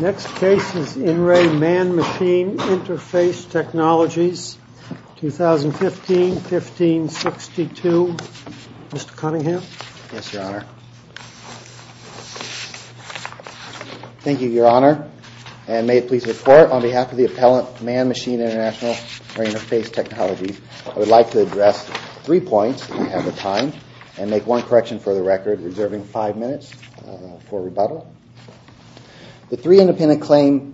Next case is In Re Man Machine Interface Tech LLC. I would like to address three points at a time and make one correction for the record reserving five minutes for rebuttal. The three independent claims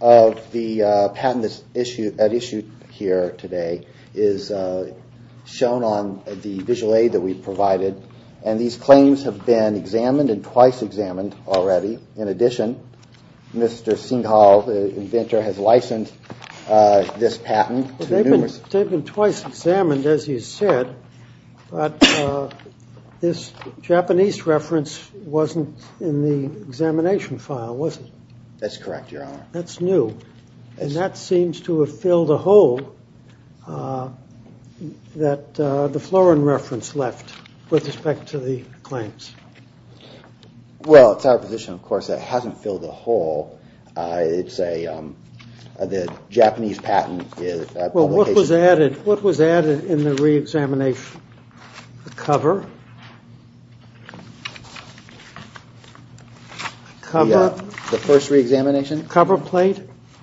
of the patent that is issued here today is shown on the visual aid that we provided. These claims have been examined and twice examined already. In addition, Mr. Singhal, the inventor, has licensed this patent. They've been twice examined, as you said, but this Japanese reference wasn't in the examination file, was it? That's correct, Your Honor. That's new. And that seems to have filled a hole that the Florin reference left with respect to the claims. Well, it's our position, of course, that it hasn't filled a hole. It's a Japanese patent. What was added in the reexamination? The cover? The first reexamination? The cover plate?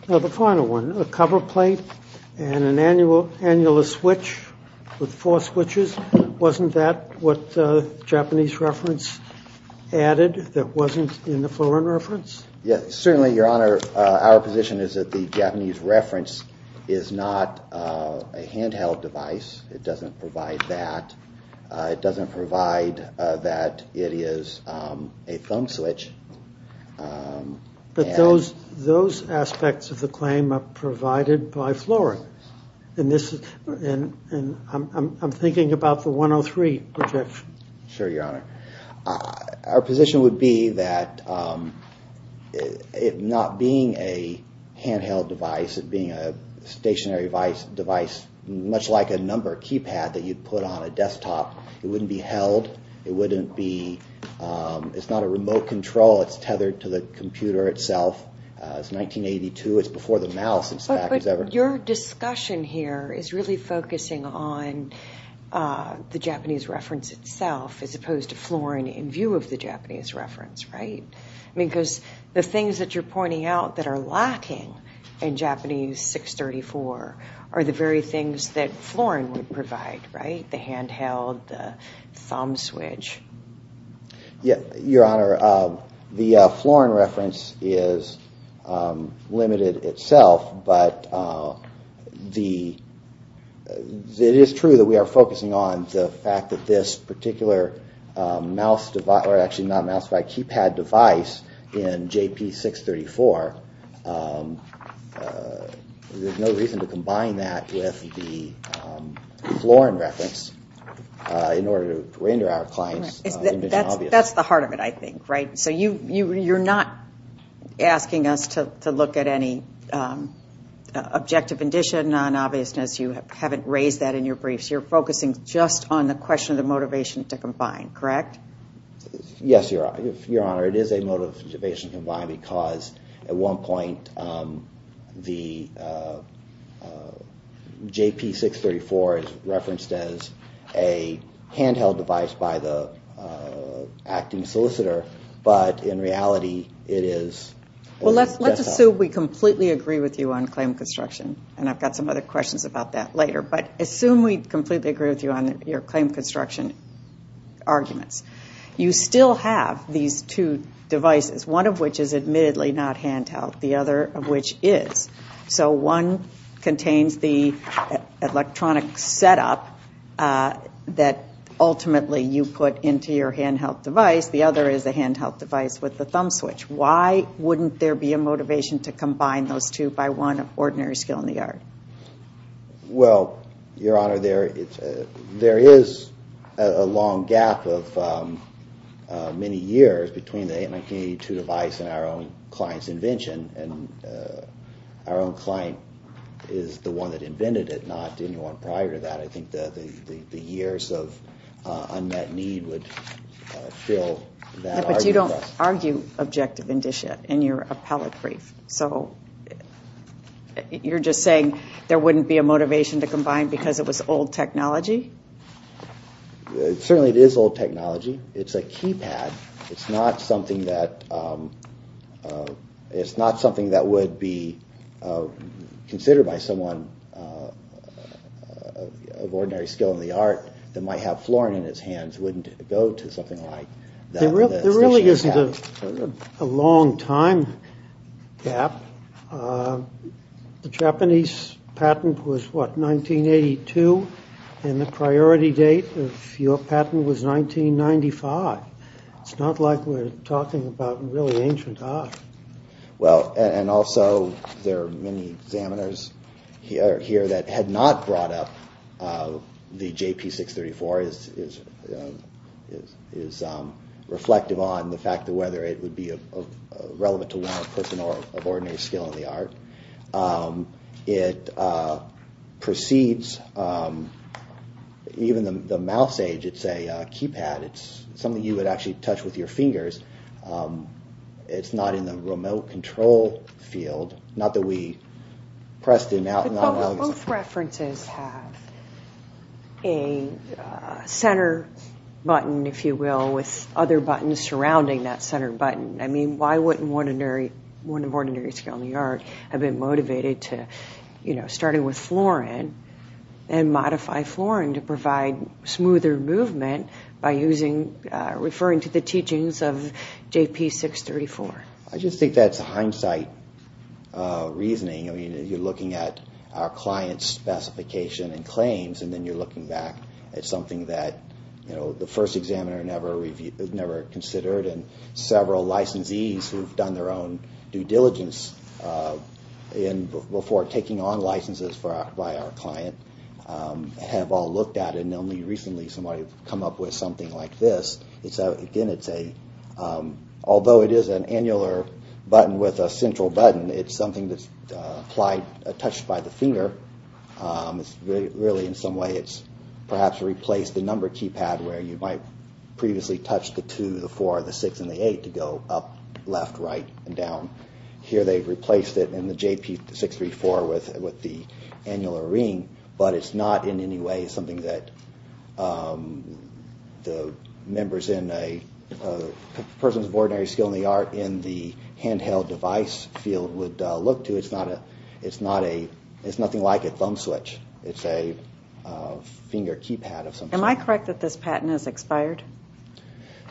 No, the final one. The cover plate and an annular switch with four switches. Wasn't that what the Japanese reference added that wasn't in the Florin reference? Yes, certainly, Your Honor. Our position is that the Japanese reference is not a handheld device. It doesn't provide that. It doesn't provide that it is a phone switch. But those aspects of the claim are provided by Florin. I'm thinking about the 103 objection. Sure, Your Honor. Our position would be that it not being a handheld device, it being a stationary device, much like a number keypad that you'd put on a desktop, it wouldn't be held. It's not a remote control. It's tethered to the computer itself. It's 1982. It's before the mouse. But your discussion here is really focusing on the Japanese reference itself as opposed to Florin in view of the Japanese reference, right? Because the things that you're pointing out that are lacking in Japanese 634 are the very things that Florin would provide, right? The handheld, the thumb switch. Your Honor, the Florin reference is limited itself, but it is true that we are focusing on the fact that this particular keypad device in JP634, there's no reason to combine that with the Florin reference in order to render our client's indication obvious. That's the heart of it, I think, right? So you're not asking us to look at any objective indication on obviousness. You haven't raised that in your briefs. You're focusing just on the question of the motivation to combine, correct? Yes, Your Honor. It is a motivation to combine because at one point, the JP634 is referenced as a handheld device by the acting solicitor. But in reality, it is a desktop. Well, let's assume we completely agree with you on claim construction. And I've got some other questions about that later. But assume we completely agree with you on your claim construction arguments. You still have these two devices, one of which is admittedly not handheld, the other of which is. So one contains the electronic setup that ultimately you put into your handheld device. The other is a handheld device with the thumb switch. Why wouldn't there be a motivation to combine those two by one of ordinary skill in the art? Well, Your Honor, there is a long gap of many years between the 89882 device and our own client's invention. And our own client is the one that invented it, not anyone prior to that. I think the years of unmet need would fill that argument. But you don't argue objective indicia in your appellate brief. So you're just saying there wouldn't be a motivation to combine because it was old technology? Certainly it is old technology. It's a keypad. It's not something that would be considered by someone of ordinary skill in the art that might have flooring in his hands. It wouldn't go to something like that. There really isn't a long time gap. The Japanese patent was, what, 1982? And the priority date of your patent was 1995. It's not like we're talking about really ancient art. Well, and also there are many examiners here that had not brought up the JP634 is reflective on the fact that whether it would be relevant to one person of ordinary skill in the art. It precedes even the mouse age. It's a keypad. It's something you would actually touch with your fingers. It's not in the remote control field. Not that we pressed him out. But both references have a center button, if you will, with other buttons surrounding that center button. I mean, why wouldn't one of ordinary skill in the art have been motivated to, you know, starting with flooring and modify flooring to provide smoother movement by referring to the teachings of JP634? I just think that's hindsight reasoning. I mean, you're looking at our client's specification and claims, and then you're looking back at something that, you know, the first examiner never considered. And several licensees who've done their own due diligence before taking on licenses by our client have all looked at it. And only recently somebody come up with something like this. Although it is an annular button with a central button, it's something that's touched by the finger. It's really in some way it's perhaps replaced the number keypad where you might previously touch the two, the four, the six, and the eight to go up, left, right, and down. Here they've replaced it in the JP634 with the annular ring. But it's not in any way something that the members in a person of ordinary skill in the art in the handheld device field would look to. It's not a – it's nothing like a thumb switch. It's a finger keypad of some sort. Am I correct that this patent has expired?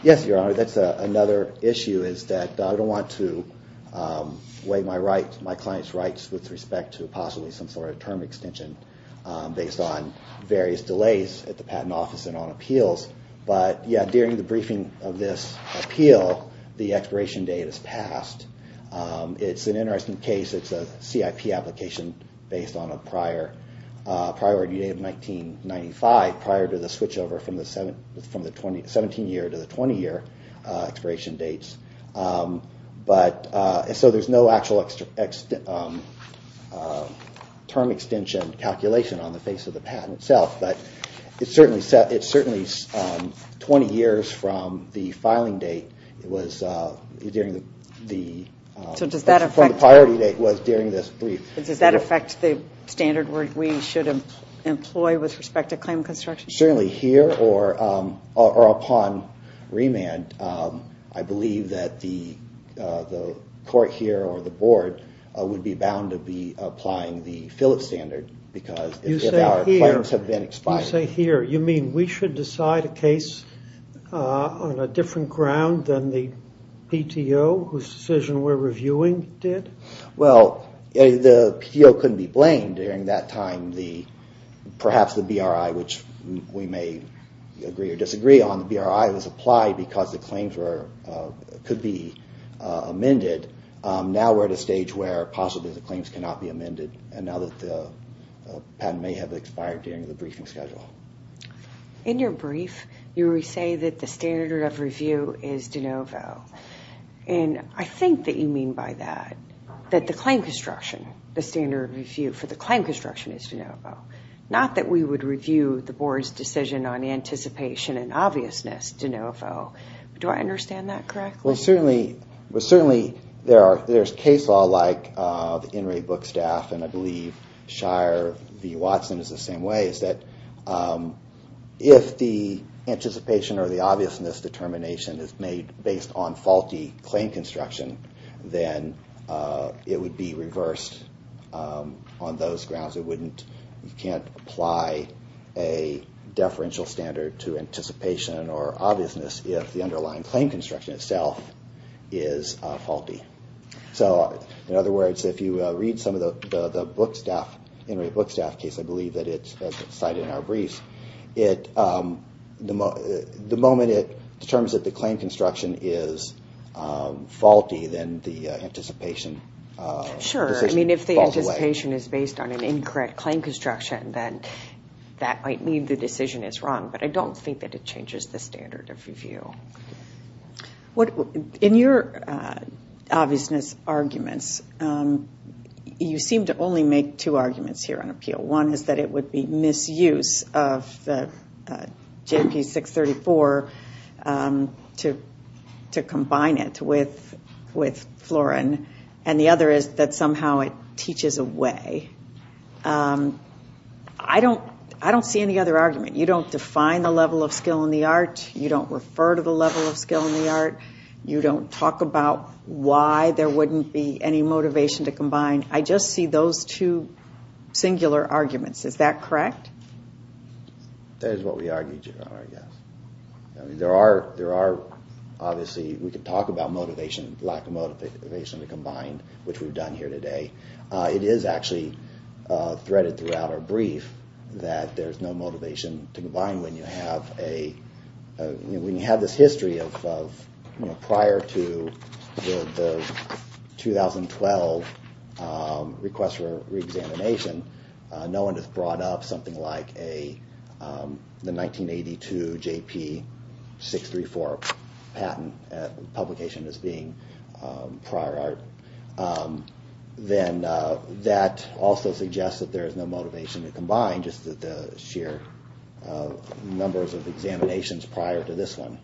Yes, Your Honor. That's another issue is that I don't want to weigh my client's rights with respect to possibly some sort of term extension based on various delays at the patent office and on appeals. But, yeah, during the briefing of this appeal, the expiration date has passed. It's an interesting case. It's a CIP application based on a prior – prior date of 1995 prior to the switchover from the 17-year to the 20-year expiration dates. But – so there's no actual term extension calculation on the face of the patent itself. But it's certainly – it's certainly 20 years from the filing date. It was during the – from the priority date was during this brief. So does that affect the standard we should employ with respect to claim construction? Certainly here or upon remand, I believe that the court here or the board would be bound to be applying the Phillips standard because if our – You say here. You mean we should decide a case on a different ground than the PTO whose decision we're reviewing did? Well, the PTO couldn't be blamed during that time. The – perhaps the BRI, which we may agree or disagree on, the BRI was applied because the claims were – could be amended. Now we're at a stage where possibly the claims cannot be amended. And now that the patent may have expired during the briefing schedule. In your brief, you say that the standard of review is de novo. And I think that you mean by that that the claim construction, the standard of review for the claim construction is de novo. Not that we would review the board's decision on anticipation and obviousness de novo. Do I understand that correctly? Well, certainly there are – there's case law like the In Re Bookstaff and I believe Shire v. Watson is the same way. It's that if the anticipation or the obviousness determination is made based on faulty claim construction, then it would be reversed on those grounds. It wouldn't – you can't apply a deferential standard to anticipation or obviousness if the underlying claim construction itself is faulty. So in other words, if you read some of the Bookstaff – In Re Bookstaff case, I believe that it's cited in our brief, the moment it determines that the claim construction is faulty, then the anticipation – Sure. I mean, if the anticipation is based on an incorrect claim construction, then that might mean the decision is wrong. But I don't think that it changes the standard of review. In your obviousness arguments, you seem to only make two arguments here on appeal. One is that it would be misuse of the JP 634 to combine it with florin, and the other is that somehow it teaches a way. I don't see any other argument. You don't define the level of skill in the art. You don't refer to the level of skill in the art. You don't talk about why there wouldn't be any motivation to combine. I just see those two singular arguments. Is that correct? That is what we argued here, I guess. I mean, there are – obviously, we could talk about motivation, lack of motivation to combine, which we've done here today. It is actually threaded throughout our brief that there's no motivation to combine when you have a – when you have this history of prior to the 2012 request for reexamination, no one has brought up something like the 1982 JP 634 patent publication as being prior art. Then that also suggests that there is no motivation to combine, just the sheer numbers of examinations prior to this one.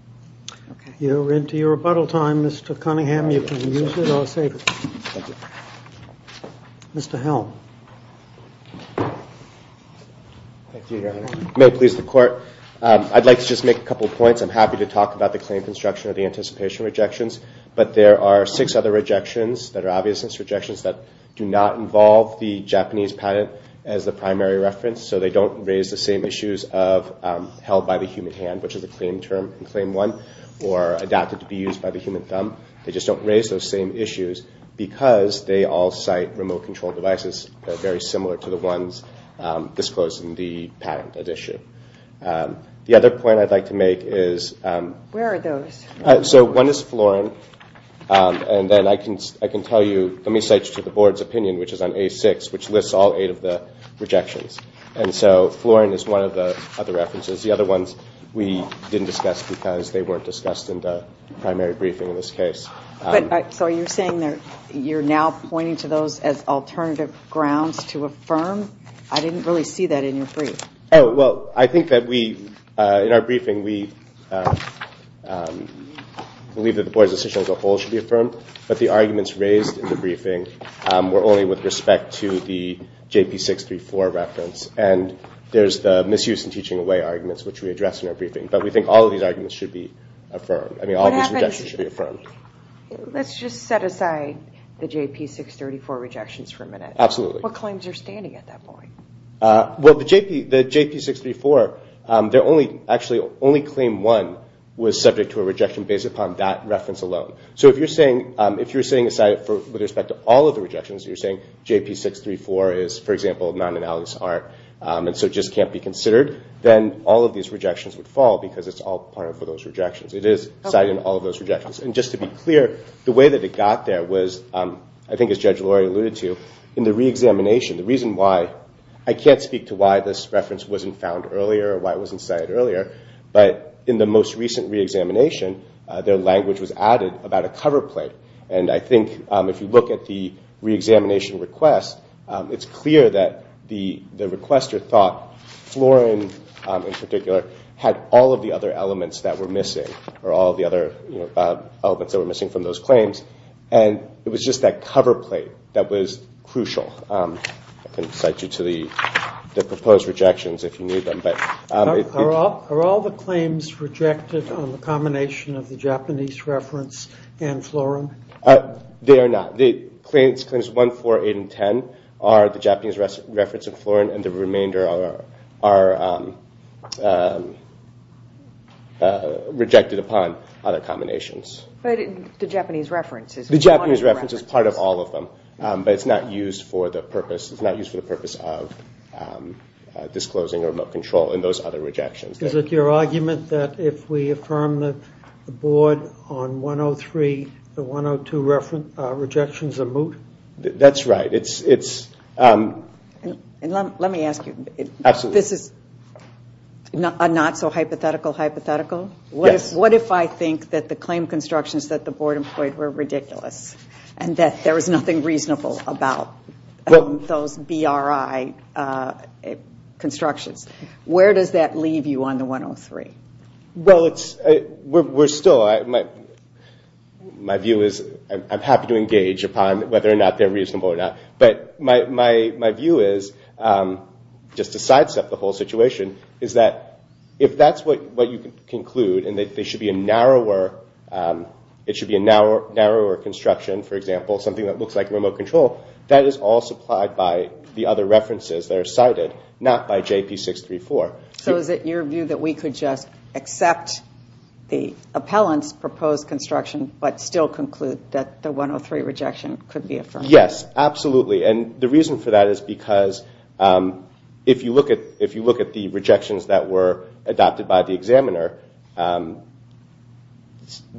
We're into your rebuttal time, Mr. Cunningham. You can use it or save it. Thank you. Mr. Helm. Thank you, Your Honor. May it please the Court. I'd like to just make a couple of points. I'm happy to talk about the claim construction or the anticipation rejections, but there are six other rejections that are obviousness rejections that do not involve the Japanese patent as the primary reference, so they don't raise the same issues of held by the human hand, which is a claim term in Claim 1, or adapted to be used by the human thumb. They just don't raise those same issues because they all cite remote control devices that are very similar to the ones disclosed in the patent edition. The other point I'd like to make is – Where are those? So one is Florin, and then I can tell you – let me cite you to the Board's opinion, which is on A6, which lists all eight of the rejections. And so Florin is one of the other references. The other ones we didn't discuss because they weren't discussed in the primary briefing in this case. So you're saying you're now pointing to those as alternative grounds to affirm? I didn't really see that in your brief. Oh, well, I think that we – in our briefing, we believe that the Board's decision as a whole should be affirmed, but the arguments raised in the briefing were only with respect to the JP634 reference. And there's the misuse and teaching away arguments, which we address in our briefing. But we think all of these arguments should be affirmed. I mean, all of these rejections should be affirmed. Let's just set aside the JP634 rejections for a minute. Absolutely. What claims are standing at that point? Well, the JP634 – actually, only Claim 1 was subject to a rejection based upon that reference alone. So if you're saying – if you're setting aside with respect to all of the rejections, you're saying JP634 is, for example, non-analysis art and so just can't be considered, then all of these rejections would fall because it's all part of those rejections. It is cited in all of those rejections. And just to be clear, the way that it got there was, I think as Judge Lori alluded to, in the reexamination, the reason why – I can't speak to why this reference wasn't found earlier or why it wasn't cited earlier, but in the most recent reexamination, their language was added about a cover plate. And I think if you look at the reexamination request, it's clear that the requester thought Florin in particular had all of the other elements that were missing or all of the other elements that were missing from those claims. And it was just that cover plate that was crucial. I can cite you to the proposed rejections if you need them. Are all the claims rejected on the combination of the Japanese reference and Florin? They are not. Claims 1, 4, 8, and 10 are the Japanese reference of Florin and the remainder are rejected upon other combinations. But the Japanese reference is one of the references. The Japanese reference is part of all of them. But it's not used for the purpose of disclosing remote control and those other rejections. Is it your argument that if we affirm the Board on 103, the 102 rejections are moot? That's right. Let me ask you. Absolutely. This is a not-so-hypothetical hypothetical? Yes. What if I think that the claim constructions that the Board employed were ridiculous and that there was nothing reasonable about those BRI constructions? Where does that leave you on the 103? Well, we're still, my view is, I'm happy to engage upon whether or not they're reasonable or not. But my view is, just to sidestep the whole situation, is that if that's what you conclude and it should be a narrower construction, for example, something that looks like remote control, that is all supplied by the other references that are cited, not by JP634. So is it your view that we could just accept the appellant's proposed construction but still conclude that the 103 rejection could be affirmed? Yes, absolutely. And the reason for that is because if you look at the rejections that were adopted by the examiner, the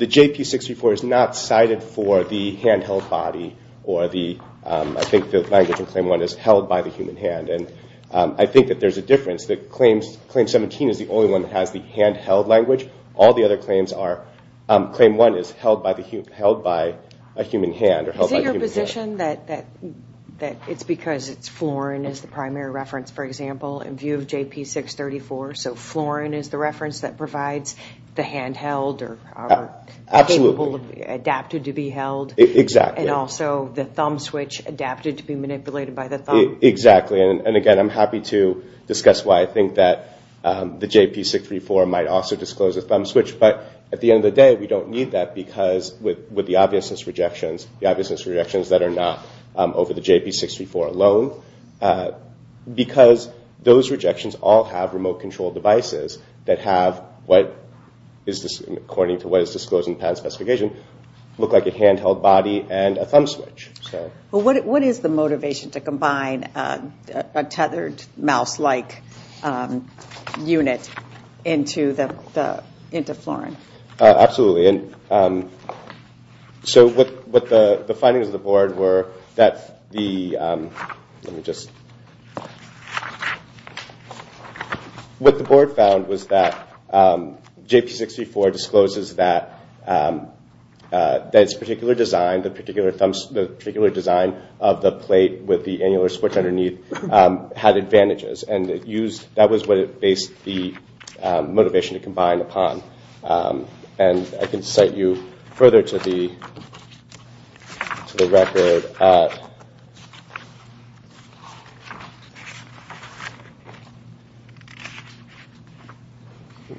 JP634 is not cited for the handheld body or the, I think the language in Claim 1 is held by the human hand. And I think that there's a difference. Claim 17 is the only one that has the handheld language. All the other claims are, Claim 1 is held by a human hand. Is it your position that it's because it's flooring is the primary reference, for example, in view of JP634? So flooring is the reference that provides the handheld or the cable adapted to be held? Exactly. And also the thumb switch adapted to be manipulated by the thumb? Exactly. And again, I'm happy to discuss why I think that the JP634 might also disclose a thumb switch. But at the end of the day, we don't need that because with the obviousness rejections, the obviousness rejections that are not over the JP634 alone, because those rejections all have remote control devices that have what, according to what is disclosed in patent specification, look like a handheld body and a thumb switch. Well, what is the motivation to combine a tethered mouse-like unit into flooring? Absolutely. So what the findings of the board were that the, let me just, what the board found was that JP634 discloses that its particular design, the particular design of the plate with the annular switch underneath had advantages and it used, that was what it based the motivation to combine upon. And I can cite you further to the record.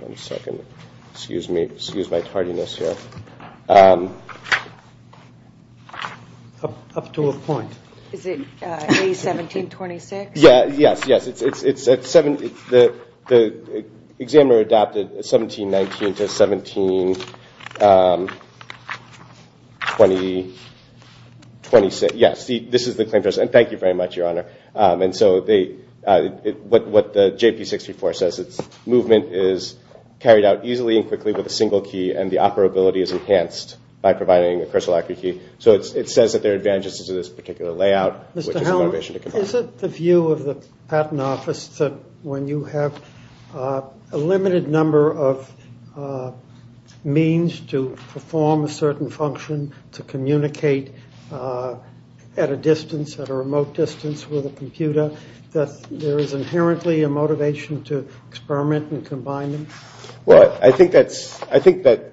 One second. Excuse me. Excuse my tardiness here. Up to a point. Is it A1726? Yes, yes. It's the examiner adopted 1719 to 1726. Yes, this is the claim. And thank you very much, Your Honor. And so what the JP634 says, its movement is carried out easily and quickly with a single key and the operability is enhanced by providing a crystal accurate key. So it says that there are advantages to this particular layout, which is the motivation to combine. Is it the view of the patent office that when you have a limited number of means to perform a certain function, to communicate at a distance, at a remote distance with a computer, that there is inherently a motivation to experiment and combine them? Well, I think that's, I think that,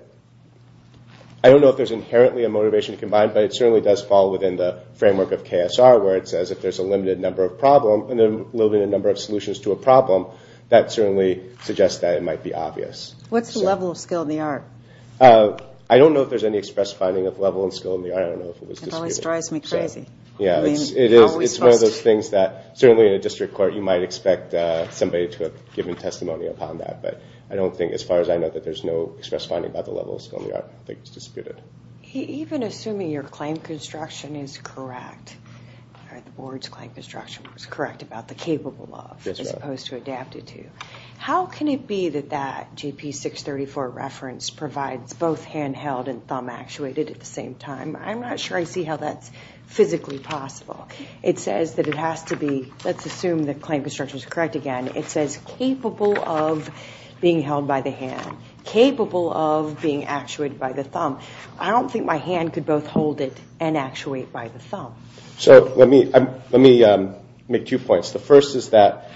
I don't know if there's inherently a motivation to combine, but it certainly does fall within the framework of KSR where it says if there's a limited number of problem and a limited number of solutions to a problem, that certainly suggests that it might be obvious. What's the level of skill in the art? I don't know if there's any express finding of level and skill in the art. I don't know if it was disputed. It always drives me crazy. Yeah, it is. It's one of those things that, certainly in a district court, you might expect somebody to have given testimony upon that, but I don't think, as far as I know, that there's no express finding about the level of skill in the art. I think it's disputed. Even assuming your claim construction is correct, or the board's claim construction was correct about the capable of, as opposed to adapted to, how can it be that that JP634 reference provides both hand-held and thumb-actuated at the same time? I'm not sure I see how that's physically possible. It says that it has to be, let's assume the claim construction is correct again, it says capable of being held by the hand, capable of being actuated by the thumb. I don't think my hand could both hold it and actuate by the thumb. So let me make two points. The first is that,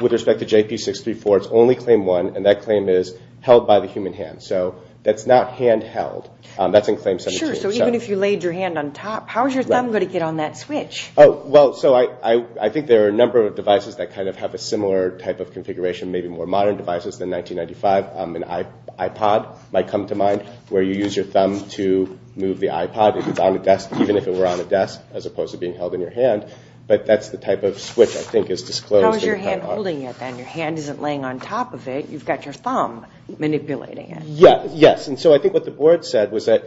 with respect to JP634, it's only Claim 1, and that claim is held by the human hand. So that's not hand-held. That's in Claim 17. Sure, so even if you laid your hand on top, how is your thumb going to get on that switch? Oh, well, so I think there are a number of devices that kind of have a similar type of configuration, maybe more modern devices than 1995. An iPod might come to mind, where you use your thumb to move the iPod if it's on a desk, even if it were on a desk, as opposed to being held in your hand. But that's the type of switch I think is disclosed. How is your hand holding it then? Your hand isn't laying on top of it. You've got your thumb manipulating it. Yes, and so I think what the Board said was that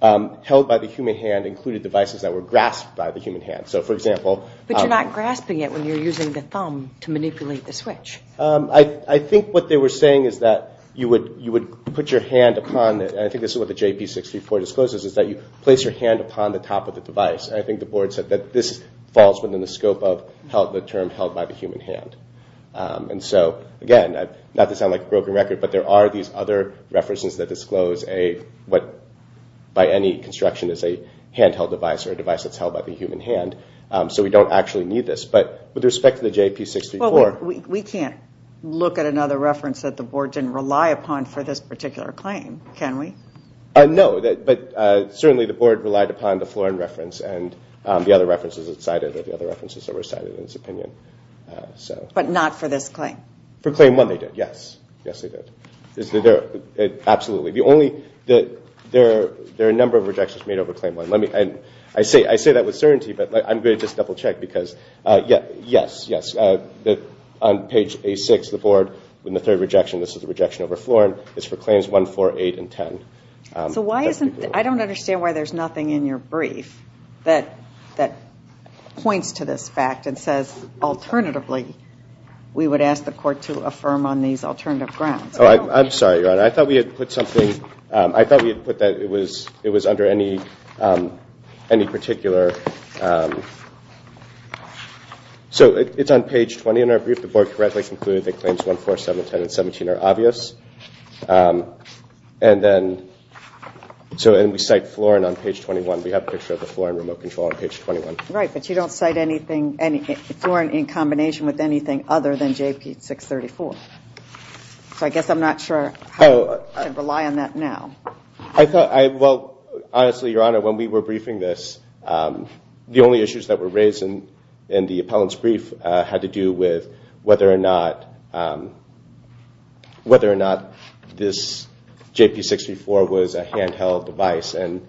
held by the human hand included devices that were grasped by the human hand. But you're not grasping it when you're using the thumb to manipulate the switch. I think what they were saying is that you would put your hand upon, and I think this is what the JP-634 discloses, is that you place your hand upon the top of the device. And I think the Board said that this falls within the scope of the term held by the human hand. And so, again, not to sound like a broken record, but there are these other references that disclose what by any construction is a handheld device or a device that's held by the human hand. So we don't actually need this. But with respect to the JP-634... Well, we can't look at another reference that the Board didn't rely upon for this particular claim, can we? No, but certainly the Board relied upon the Florin reference and the other references that were cited in its opinion. But not for this claim? For Claim 1, they did, yes. Yes, they did. Absolutely. There are a number of rejections made over Claim 1. I say that with certainty, but I'm going to just double-check, because, yes, yes. On page A6, the Board, in the third rejection, this is the rejection over Florin, is for Claims 1, 4, 8, and 10. So why isn't... I don't understand why there's nothing in your brief that points to this fact and says, alternatively, we would ask the Court to affirm on these alternative grounds. I'm sorry, Your Honor. I thought we had put something... I thought we had put that it was under any particular... So it's on page 20 in our brief. The Board correctly concluded that Claims 1, 4, 7, 10, and 17 are obvious. And then... And we cite Florin on page 21. We have a picture of the Florin remote control on page 21. Right, but you don't cite anything... Florin in combination with anything other than JP634. So I guess I'm not sure how you can rely on that now. I thought... Well, honestly, Your Honor, when we were briefing this, the only issues that were raised in the appellant's brief had to do with whether or not... whether or not this JP634 was a handheld device or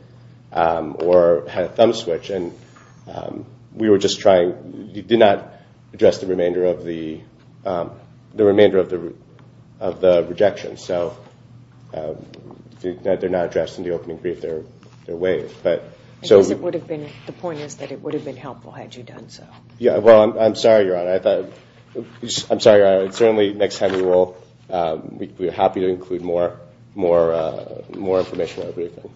had a thumb switch. And we were just trying... We did not address the remainder of the... the remainder of the rejection. So they're not addressed in the opening brief. They're waived. I guess it would have been... The point is that it would have been helpful had you done so. Yeah, well, I'm sorry, Your Honor. I thought... I'm sorry, Your Honor. Certainly next time we will... We're happy to include more information in our briefing.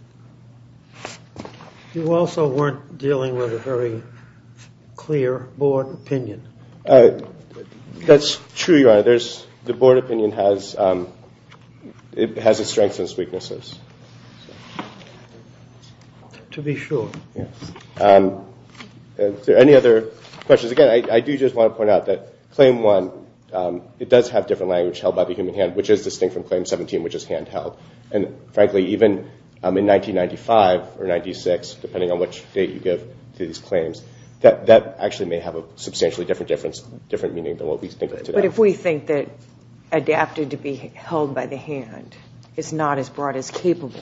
You also weren't dealing with a very clear Board opinion. That's true, Your Honor. The Board opinion has... It has its strengths and weaknesses. To be sure. Are there any other questions? Again, I do just want to point out that Claim 1, it does have different language, held by the human hand, which is distinct from Claim 17, which is handheld. And frankly, even in 1995 or 96, depending on which date you give to these claims, that actually may have a substantially different meaning than what we think of today. But if we think that adapted to be held by the hand is not as broad as capable,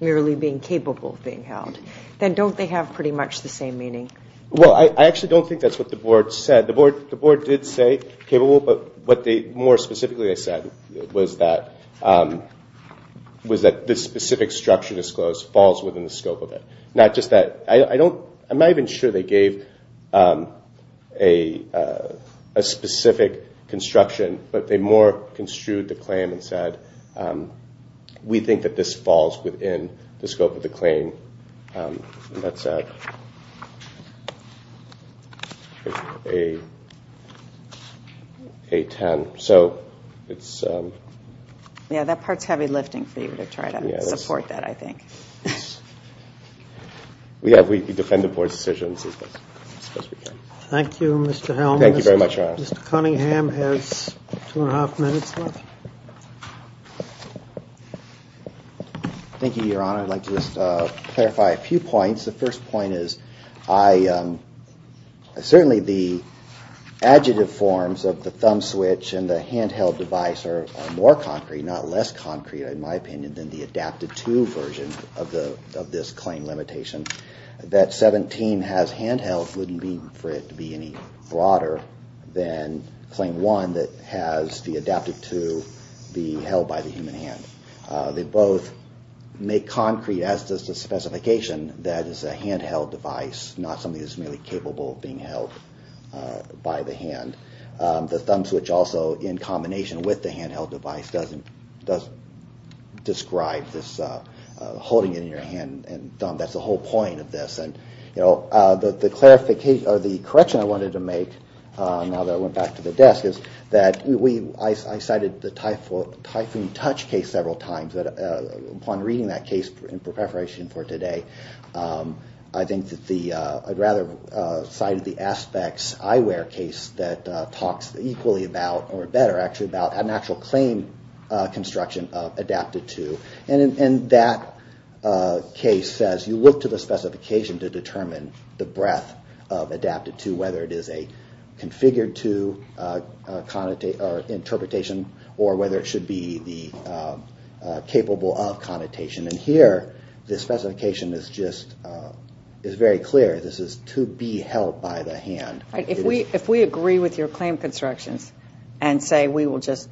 being held, then don't they have pretty much the same meaning? Well, I actually don't think that's what the Board said. The Board did say capable, but what they more specifically said was that this specific structure disclosed falls within the scope of it. Not just that... I'm not even sure they gave a specific construction, but they more construed the claim and said, we think that this falls within the scope of the claim. Yeah, that part's heavy lifting for you to try to support that, I think. Yeah, we defend the Board's decisions as best we can. Thank you, Mr. Helms. Thank you very much, Your Honor. Mr. Cunningham has two and a half minutes left. Thank you, Your Honor. I'd like to just clarify a few points. The first point is, certainly the adjective forms of the thumb switch and the handheld device are more concrete, not less concrete, in my opinion, than the adapted to version of this claim limitation. That 17 has handheld wouldn't mean for it to be any broader than Claim 1 that has the adapted to be held by the human hand. They both make concrete, as does the specification, that it's a handheld device, not something that's merely capable of being held by the hand. The thumb switch also, in combination with the handheld device, does describe this holding it in your hand. That's the whole point of this. The correction I wanted to make, now that I went back to the desk, is that I cited the Typhoon Touch case several times. Upon reading that case in preparation for today, I'd rather cite the Aspects Eyewear case that talks equally about, or better actually, about a natural claim construction adapted to. That case says you look to the specification to determine the breadth of adapted to, whether it is a configured to interpretation or whether it should be capable of connotation. Here, the specification is very clear. This is to be held by the hand. If we agree with your claim constructions and say we will just,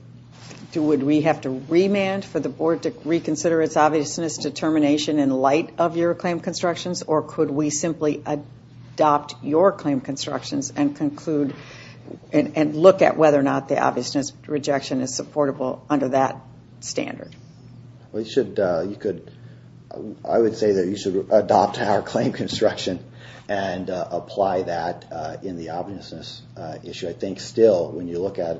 would we have to remand for the board to reconsider its obviousness determination in light of your claim constructions, or could we simply adopt your claim constructions and look at whether or not the obviousness rejection is supportable under that standard? I would say that you should adopt our claim construction and apply that in the obviousness issue. I think still, when you look at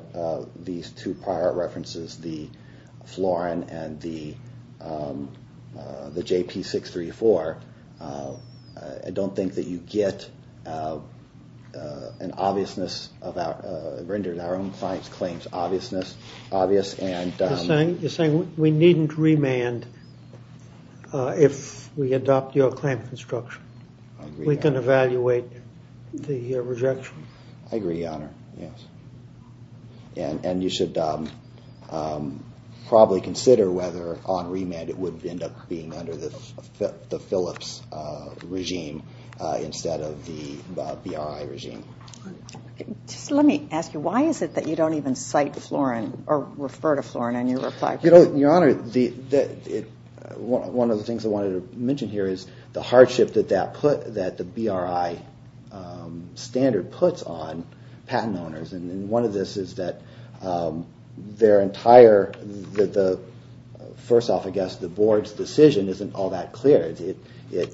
these two prior references, the Florin and the JP634, I don't think that you get an obviousness that renders our own client's claims obvious. You're saying we needn't remand if we adopt your claim construction. We can evaluate the rejection. I agree, Your Honor. You should probably consider whether on remand it would end up being under the Phillips regime instead of the BRI regime. Just let me ask you, why is it that you don't even cite Florin or refer to Florin in your reply? Your Honor, one of the things I wanted to mention here is the hardship that the BRI standard puts on patent owners. One of this is that their entire... First off, I guess the Board's decision isn't all that clear. It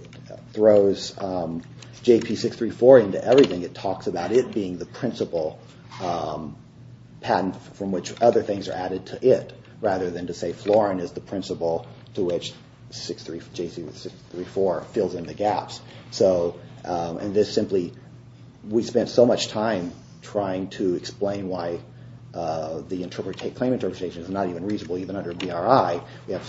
throws JP634 into everything. It talks about it being the principal patent from which other things are added to it, rather than to say Florin is the principal to which JP634 fills in the gaps. We spent so much time trying to explain why the claim interpretation is not even reasonable, even under BRI, we have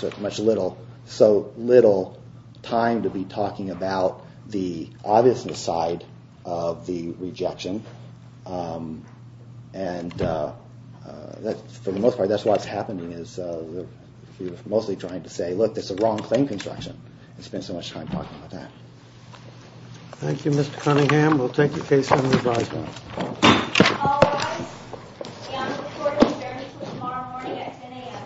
so little time to be talking about the obviousness side of the rejection. For the most part, that's what's happening. You're mostly trying to say, look, there's a wrong claim construction. We spent so much time talking about that. Thank you, Mr. Cunningham. We'll take your case under revise now.